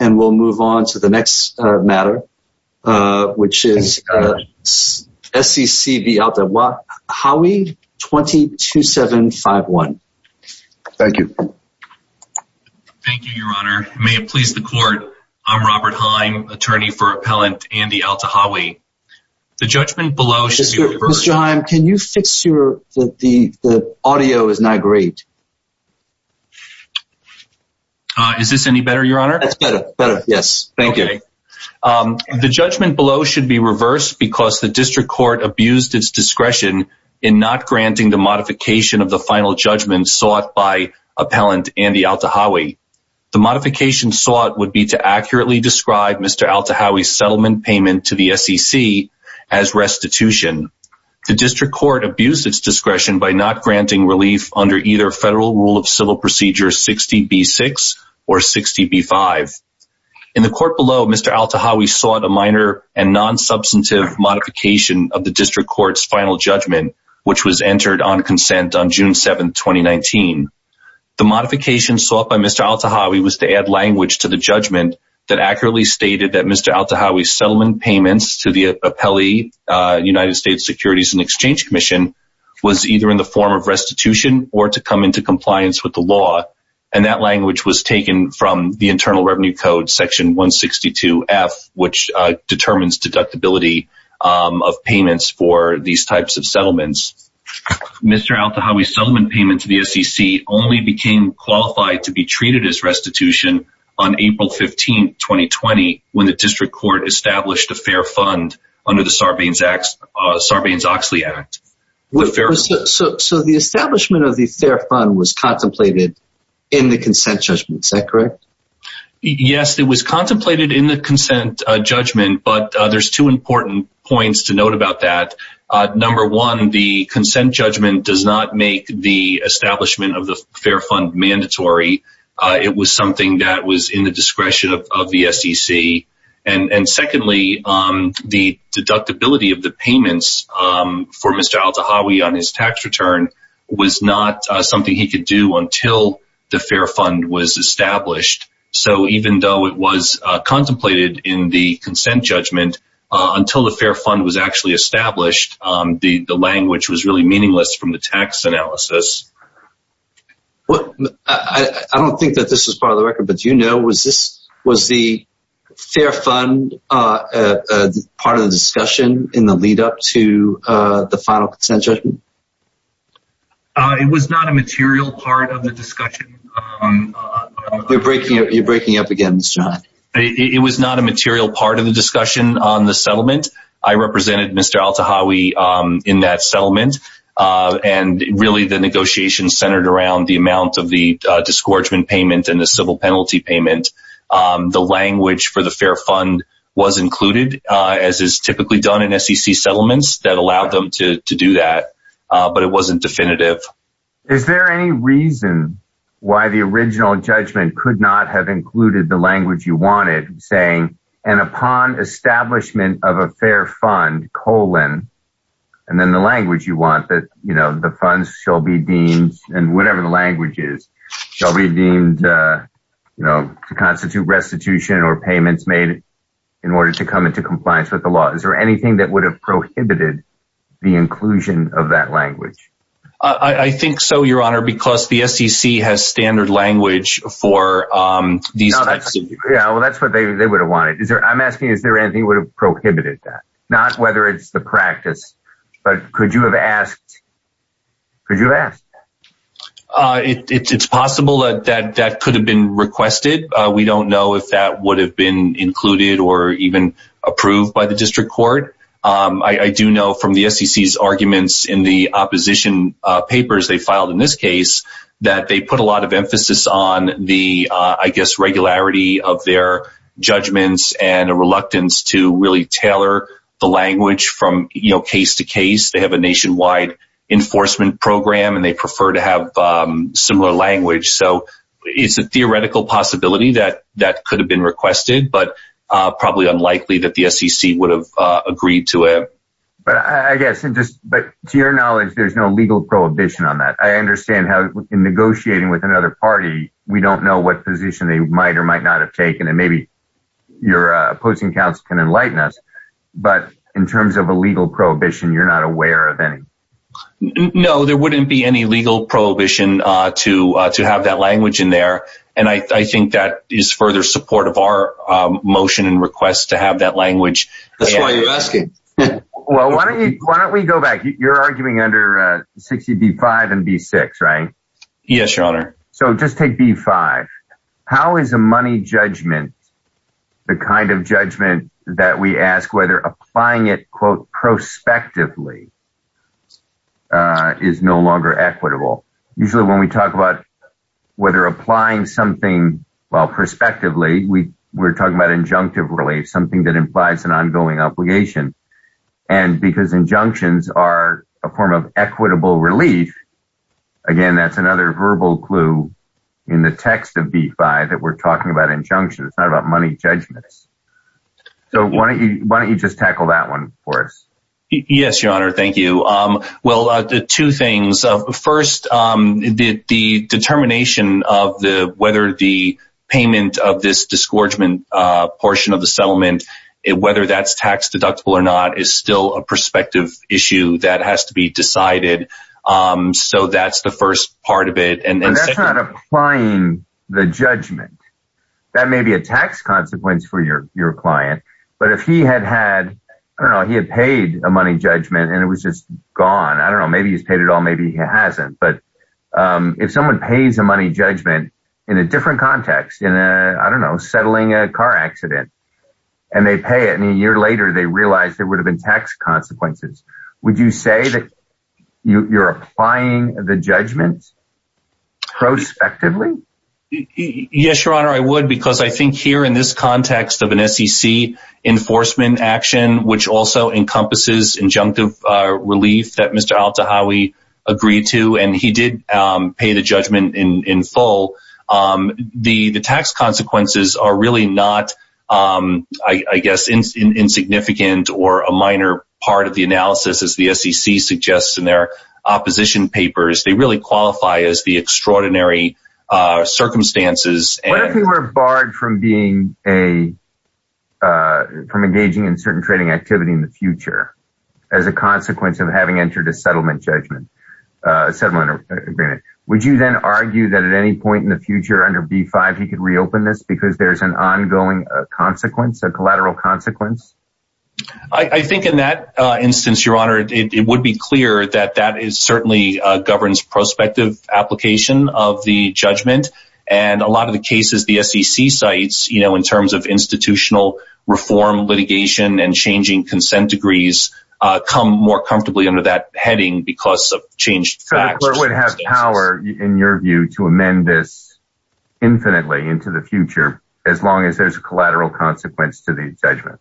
And we'll move on to the next matter, which is SCC v. Alta Hawi, 22751. Thank you. Thank you, Your Honor. May it please the court. I'm Robert Haim, Attorney for Appellant Andy Alta Hawi. The judgment below should be reversed. Mr. Haim, can you fix your, the audio is not great. Is this any better, Your Honor? That's better, better, yes. Thank you. The judgment below should be reversed because the District Court abused its discretion in not granting the modification of the final judgment sought by Appellant Andy Alta Hawi. The modification sought would be to accurately describe Mr. Alta Hawi's settlement payment to the SCC as restitution. The District Court abused its discretion by not granting relief under either Federal Rule of Civil Procedure 60B6 or 60B5. In the court below, Mr. Alta Hawi sought a minor and non-substantive modification of the District Court's final judgment, which was entered on consent on June 7, 2019. The modification sought by Mr. Alta Hawi was to add language to the judgment that accurately stated that Mr. Alta Hawi's settlement payments to the Appellee United States Securities and Exchange Commission was either in the form of restitution or to come into compliance with the law. And that language was taken from the Internal Revenue Code Section 162F, which determines deductibility of payments for these types of settlements. Mr. Alta Hawi's settlement payment to the SCC only became qualified to be treated as restitution on April 15, 2020, when the District Court established a fair fund under the Sarbanes-Oxley Act. So the establishment of the fair fund was contemplated in the consent judgment, is that correct? Yes, it was contemplated in the consent judgment, but there's two important points to note about that. Number one, the consent judgment does not make the establishment of the fair fund mandatory. It was something that was in the discretion of the SCC. And secondly, the deductibility of the payments for Mr. Alta Hawi on his tax return was not something he could do until the fair fund was established. So even though it was contemplated in the consent judgment, until the fair fund was actually established, the language was really meaningless from the tax analysis. I don't think that this is part of the record, but do you know, was the fair fund part of the discussion in the lead up to the final consent judgment? It was not a material part of the discussion. You're breaking up again, Mr. Hawi. It was not a material part of the discussion on the settlement. I represented Mr. Alta Hawi in that settlement. And really the negotiation centered around the amount of the disgorgement payment and the civil penalty payment. The language for the fair fund was included, as is typically done in SCC settlements, that allowed them to do that, but it wasn't definitive. Is there any reason why the original judgment could not have included the language you wanted, saying, and upon establishment of a fair fund, colon, and then the language you want that, you know, the funds shall be deemed, and whatever the language is, shall be deemed, you know, to constitute restitution or payments made in order to come into compliance with the law. Is there anything that would have prohibited the inclusion of that language? I think so, Your Honor, because the SCC has standard language for these. Yeah, well, that's what they would have wanted. Is there, I'm asking, is there anything would have prohibited that? Not whether it's the practice, but could you have asked? Could you ask? It's possible that that could have been requested. We don't know if that would have been included or even approved by the district court. I do know from the SCC's arguments in the opposition papers they filed in this case that they put a lot of emphasis on the, I guess, regularity of their judgments and a reluctance to really tailor the language from case to case. They have a nationwide enforcement program and they prefer to have similar language. So it's a theoretical possibility that that could have been requested, but probably unlikely that the SCC would have agreed to it. But to your knowledge, there's no legal prohibition on that. I understand how in negotiating with another party, we don't know what position they might or might not have taken. And maybe your opposing counsel can enlighten us. But in terms of a legal prohibition, you're not aware of any. No, there wouldn't be any legal prohibition to have that language in there. And I think that is further support of our motion and request to have that language. That's why you're asking. Well, why don't we go back? You're arguing under 60 B-5 and B-6, right? Yes, your honor. So just take B-5. How is a money judgment, the kind of judgment that we ask whether applying it, quote, prospectively, is no longer equitable? Usually when we talk about whether applying something, well, prospectively, we're talking about injunctive relief, something that implies an ongoing obligation. And because injunctions are a form of equitable relief. Again, that's another verbal clue in the text of B-5 that we're talking about injunctions, not about money judgments. So why don't you just tackle that one for us? Yes, your honor. Thank you. Well, two things. First, the determination of whether the payment of this disgorgement portion of the settlement, whether that's tax deductible or not, is still a prospective issue that has to be decided. So that's the first part of it. But that's not applying the judgment. That may be a tax consequence for your client. But if he had had, I don't know, he had paid a money judgment and it was just gone, I don't know, maybe he's paid it all, maybe he hasn't. But if someone pays a money judgment in a different context, in a, I don't know, settling a car accident, and they pay it and a year later, they realize there would have been tax consequences. Would you say that you're applying the judgment prospectively? Yes, your honor, I would, because I think here in this context of an SEC enforcement action, which also encompasses injunctive relief that Mr. Al-Tahawi agreed to, and he did pay the judgment in full. The tax consequences are really not, I guess, insignificant or a minor part of the analysis, as the SEC suggests in their opposition papers. They really qualify as the extraordinary circumstances. What if he were barred from engaging in certain trading activity in the future as a consequence of having entered a settlement agreement? Would you then argue that at any point in the future under B-5, he could reopen this because there's an ongoing consequence, a collateral consequence? I think in that instance, your honor, it would be clear that that is certainly governs prospective application of the judgment. And a lot of the cases, the SEC sites, you know, in terms of institutional reform, litigation and changing consent degrees, come more comfortably under that heading because of changed facts. So the court would have power, in your view, to amend this infinitely into the future as long as there's a collateral consequence to the judgment?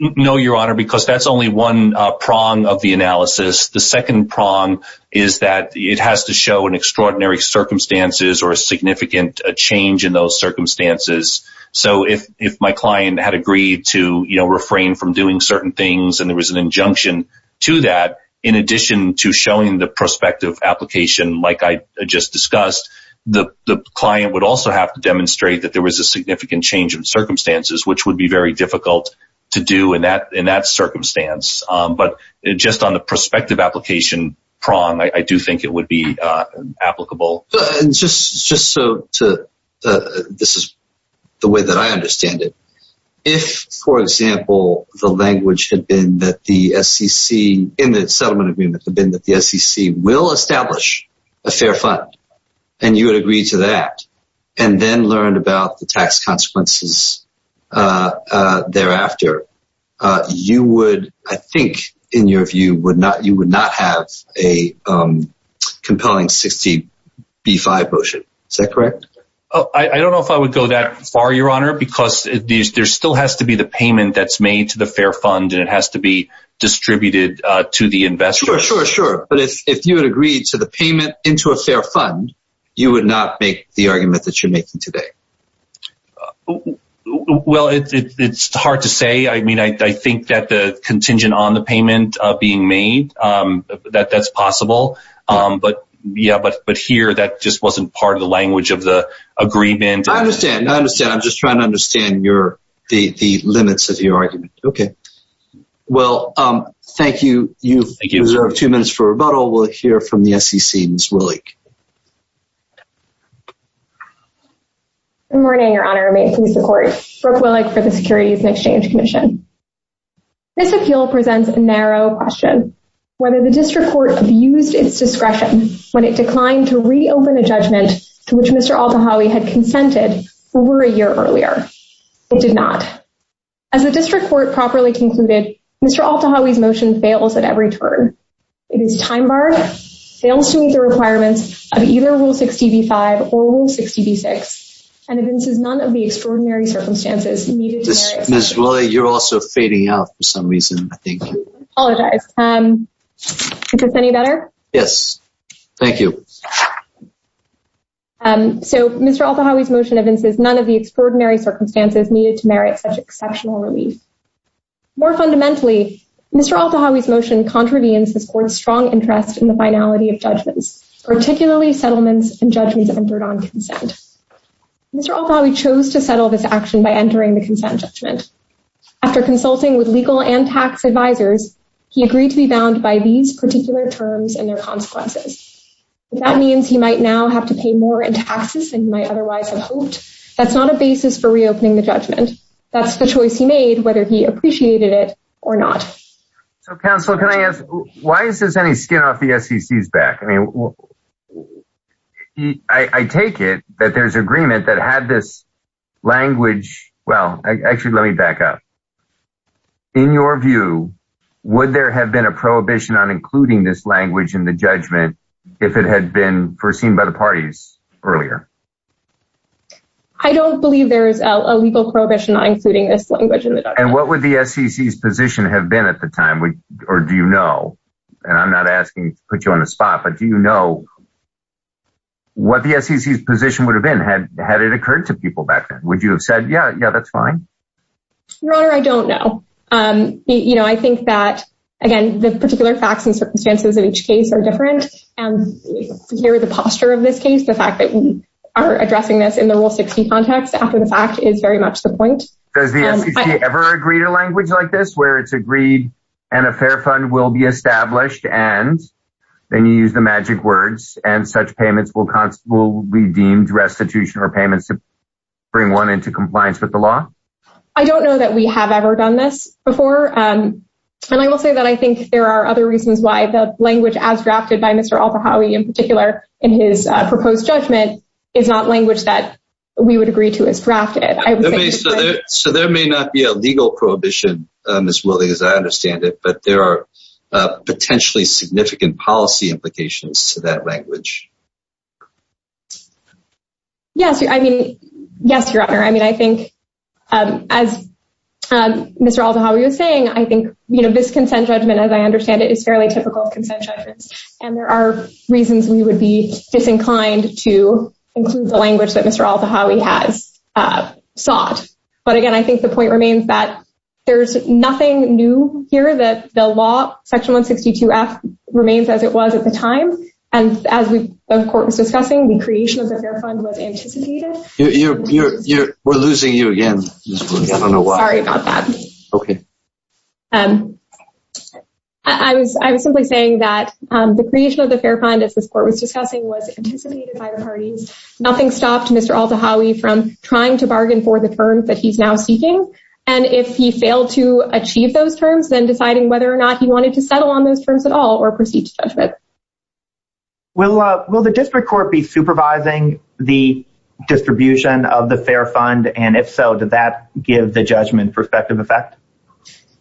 No, your honor, because that's only one prong of the analysis. The second prong is that it has to show an extraordinary circumstances or a significant change in those circumstances. So if my client had agreed to refrain from doing certain things and there was an injunction to that, in addition to showing the prospective application, like I just discussed, the client would also have to demonstrate that there was a significant change in circumstances, which would be very difficult to do in that circumstance. But just on the prospective application prong, I do think it would be applicable. Just so this is the way that I understand it. If, for example, the language had been that the SEC in the settlement agreement had been that the SEC will establish a fair fund, and you would agree to that, and then learn about the tax consequences thereafter. You would, I think, in your view, you would not have a compelling 60 B5 motion. Is that correct? I don't know if I would go that far, your honor, because there still has to be the payment that's made to the fair fund and it has to be distributed to the investor. Sure, sure, sure. But if you had agreed to the payment into a fair fund, you would not make the argument that you're making today. Well, it's hard to say. I mean, I think that the contingent on the payment being made, that that's possible. But yeah, but but here that just wasn't part of the language of the agreement. I understand. I understand. I'm just trying to understand your the limits of your argument. Okay. Well, thank you. You have two minutes for rebuttal. We'll hear from the SEC. Good morning, your honor. May it please the court. Brooke Willick for the Securities and Exchange Commission. This appeal presents a narrow question, whether the district court abused its discretion when it declined to reopen a judgment to which Mr. Altawhowie had consented over a year earlier. It did not. As the district court properly concluded, Mr. Altawhowie's motion fails at every turn. It is time-barred, fails to meet the requirements of either Rule 60b-5 or Rule 60b-6, and evinces none of the extraordinary circumstances needed. Ms. Willick, you're also fading out for some reason, I think. I apologize. Is this any better? Yes. Thank you. So Mr. Altawhowie's motion evinces none of the extraordinary circumstances needed to merit such exceptional relief. More fundamentally, Mr. Altawhowie's motion contravenes this court's strong interest in the finality of judgments, particularly settlements and judgments entered on consent. Mr. Altawhowie chose to settle this action by entering the consent judgment. After consulting with legal and tax advisors, he agreed to be bound by these particular terms and their consequences. That means he might now have to pay more in taxes than he might otherwise have hoped. That's not a basis for reopening the judgment. That's the choice he made, whether he appreciated it or not. So counsel, can I ask, why is this any skin off the SEC's back? I mean, I take it that there's agreement that had this language. Well, actually, let me back up. In your view, would there have been a prohibition on including this language in the judgment if it had been foreseen by the parties earlier? I don't believe there is a legal prohibition on including this language in the judgment. And what would the SEC's position have been at the time, or do you know? And I'm not asking to put you on the spot, but do you know what the SEC's position would have been had it occurred to people back then? Would you have said, yeah, yeah, that's fine? Your Honor, I don't know. You know, I think that, again, the particular facts and circumstances of each case are different. And here is the posture of this case. The fact that we are addressing this in the Rule 60 context after the fact is very much the point. Does the SEC ever agree to language like this, where it's agreed and a fair fund will be established, and then you use the magic words, and such payments will be deemed restitution or payments to bring one into compliance with the law? I don't know that we have ever done this before. And I will say that I think there are other reasons why the language, as drafted by Mr. Al-Fahawy in particular in his proposed judgment, is not language that we would agree to as drafted. So there may not be a legal prohibition, as well as I understand it, but there are potentially significant policy implications to that language. Yes, I mean, yes, Your Honor. I mean, I think, as Mr. Al-Fahawy was saying, I think, you know, this consent judgment, as I understand it, is fairly typical of consent judgments. And there are reasons we would be disinclined to include the language that Mr. Al-Fahawy has sought. But again, I think the point remains that there's nothing new here, that the law, Section 162F, remains as it was at the time. And as the Court was discussing, the creation of the fair fund was anticipated. We're losing you again, Ms. Blumenthal. Sorry about that. Okay. I was simply saying that the creation of the fair fund, as this Court was discussing, was anticipated by the parties. Nothing stopped Mr. Al-Fahawy from trying to bargain for the terms that he's now seeking. And if he failed to achieve those terms, then deciding whether or not he wanted to settle on those terms at all or proceed to judgment. Will the district court be supervising the distribution of the fair fund? And if so, did that give the judgment prospective effect?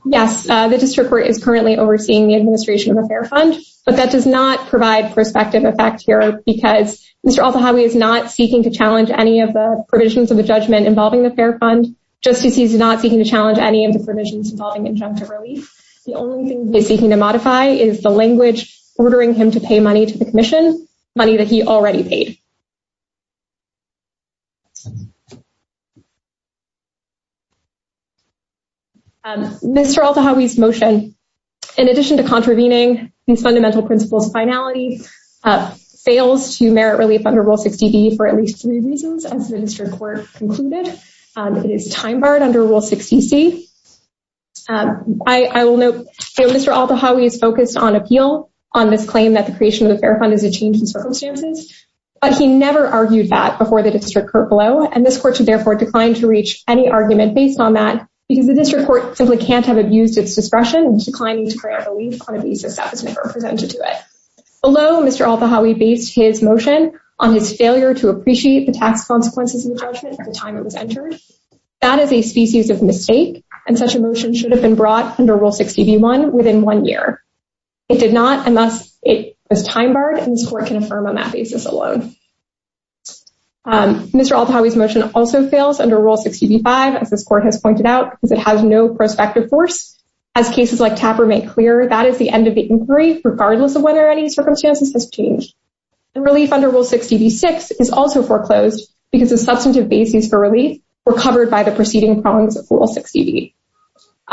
Yes. The district court is currently overseeing the administration of the fair fund. But that does not provide prospective effect here because Mr. Al-Fahawy is not seeking to challenge any of the provisions of the judgment involving the fair fund. Just as he's not seeking to challenge any of the provisions involving injunctive relief. The only thing he's seeking to modify is the language ordering him to pay money to the commission, money that he already paid. Mr. Al-Fahawy's motion, in addition to contravening these fundamental principles finality, fails to merit relief under Rule 60B for at least three reasons, as the district court concluded. It is time barred under Rule 60C. I will note Mr. Al-Fahawy is focused on appeal on this claim that the creation of the fair fund is a change in circumstances. But he never argued that before the district court below. And this court should therefore decline to reach any argument based on that because the district court simply can't have abused its discretion in declining to create relief on a basis that was never presented to it. Below, Mr. Al-Fahawy based his motion on his failure to appreciate the tax consequences of the judgment at the time it was entered. That is a species of mistake, and such a motion should have been brought under Rule 60B-1 within one year. It did not, and thus it was time barred, and this court can affirm on that basis alone. Mr. Al-Fahawy's motion also fails under Rule 60B-5, as this court has pointed out, because it has no prospective force. As cases like Tapper make clear, that is the end of the inquiry, regardless of whether any circumstances have changed. Relief under Rule 60B-6 is also foreclosed because the substantive basis for relief were covered by the preceding prongs of Rule 60B.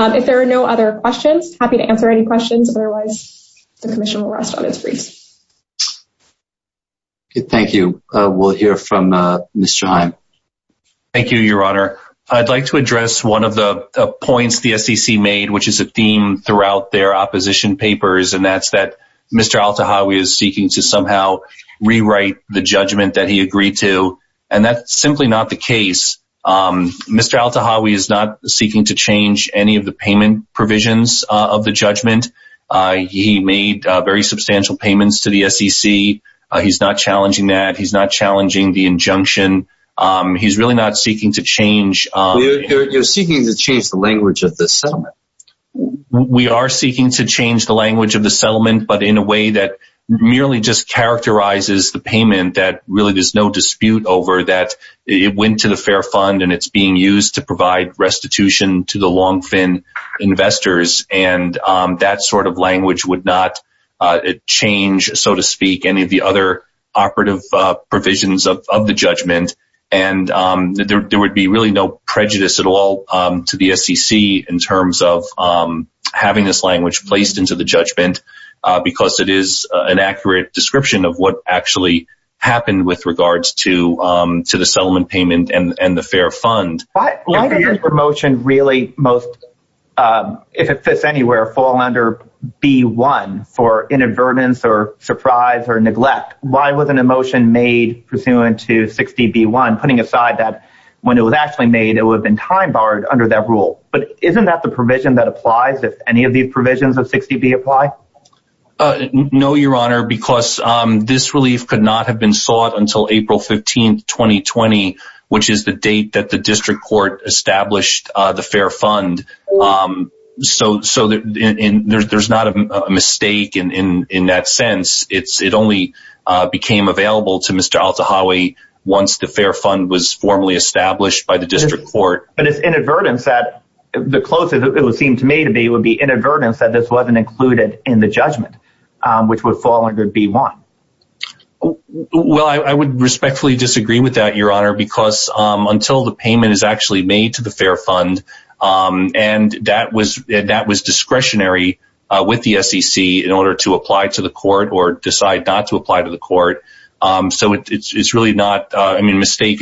If there are no other questions, happy to answer any questions. Otherwise, the commission will rest on its feet. Thank you. We'll hear from Mr. Heim. Thank you, Your Honor. I'd like to address one of the points the SEC made, which is a theme throughout their opposition papers, and that's that Mr. Al-Fahawy is seeking to somehow rewrite the judgment that he agreed to, and that's simply not the case. Mr. Al-Fahawy is not seeking to change any of the payment provisions of the judgment. He made very substantial payments to the SEC. He's not challenging that. He's not challenging the injunction. He's really not seeking to change... You're seeking to change the language of the settlement. We are seeking to change the language of the settlement, but in a way that merely just characterizes the payment that really there's no dispute over that it went to the Fair Fund and it's being used to provide restitution to the long-fin investors, and that sort of language would not change, so to speak, any of the other operative provisions of the judgment. And there would be really no prejudice at all to the SEC in terms of having this language placed into the judgment because it is an accurate description of what actually happened with regards to the settlement payment and the Fair Fund. Why does this promotion really most, if it fits anywhere, fall under B-1 for inadvertence or surprise or neglect? Why was an emotion made pursuant to 60B-1, putting aside that when it was actually made, it would have been time-barred under that rule? But isn't that the provision that applies if any of these provisions of 60B apply? No, Your Honor, because this relief could not have been sought until April 15, 2020, which is the date that the district court established the Fair Fund. So there's not a mistake in that sense. It only became available to Mr. Al-Tahawy once the Fair Fund was formally established by the district court. But it's inadvertence that the closest it would seem to me to be would be inadvertence that this wasn't included in the judgment, which would fall under B-1. Well, I would respectfully disagree with that, Your Honor, because until the payment is actually made to the Fair Fund, and that was discretionary with the SEC in order to apply to the court or decide not to apply to the court. Mistake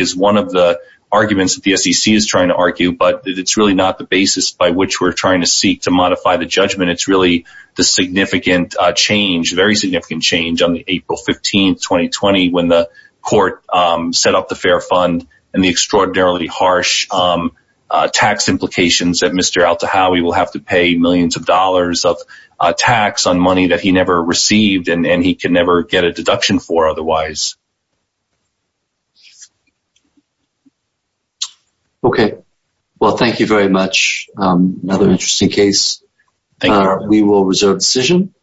is one of the arguments that the SEC is trying to argue, but it's really not the basis by which we're trying to seek to modify the judgment. It's really the significant change, very significant change on April 15, 2020, when the court set up the Fair Fund and the extraordinarily harsh tax implications that Mr. Al-Tahawy will have to pay millions of dollars of tax on money that he never received and he can never get a deduction for otherwise. Okay. Well, thank you very much. Another interesting case. Thank you, Your Honor. We will reserve the decision.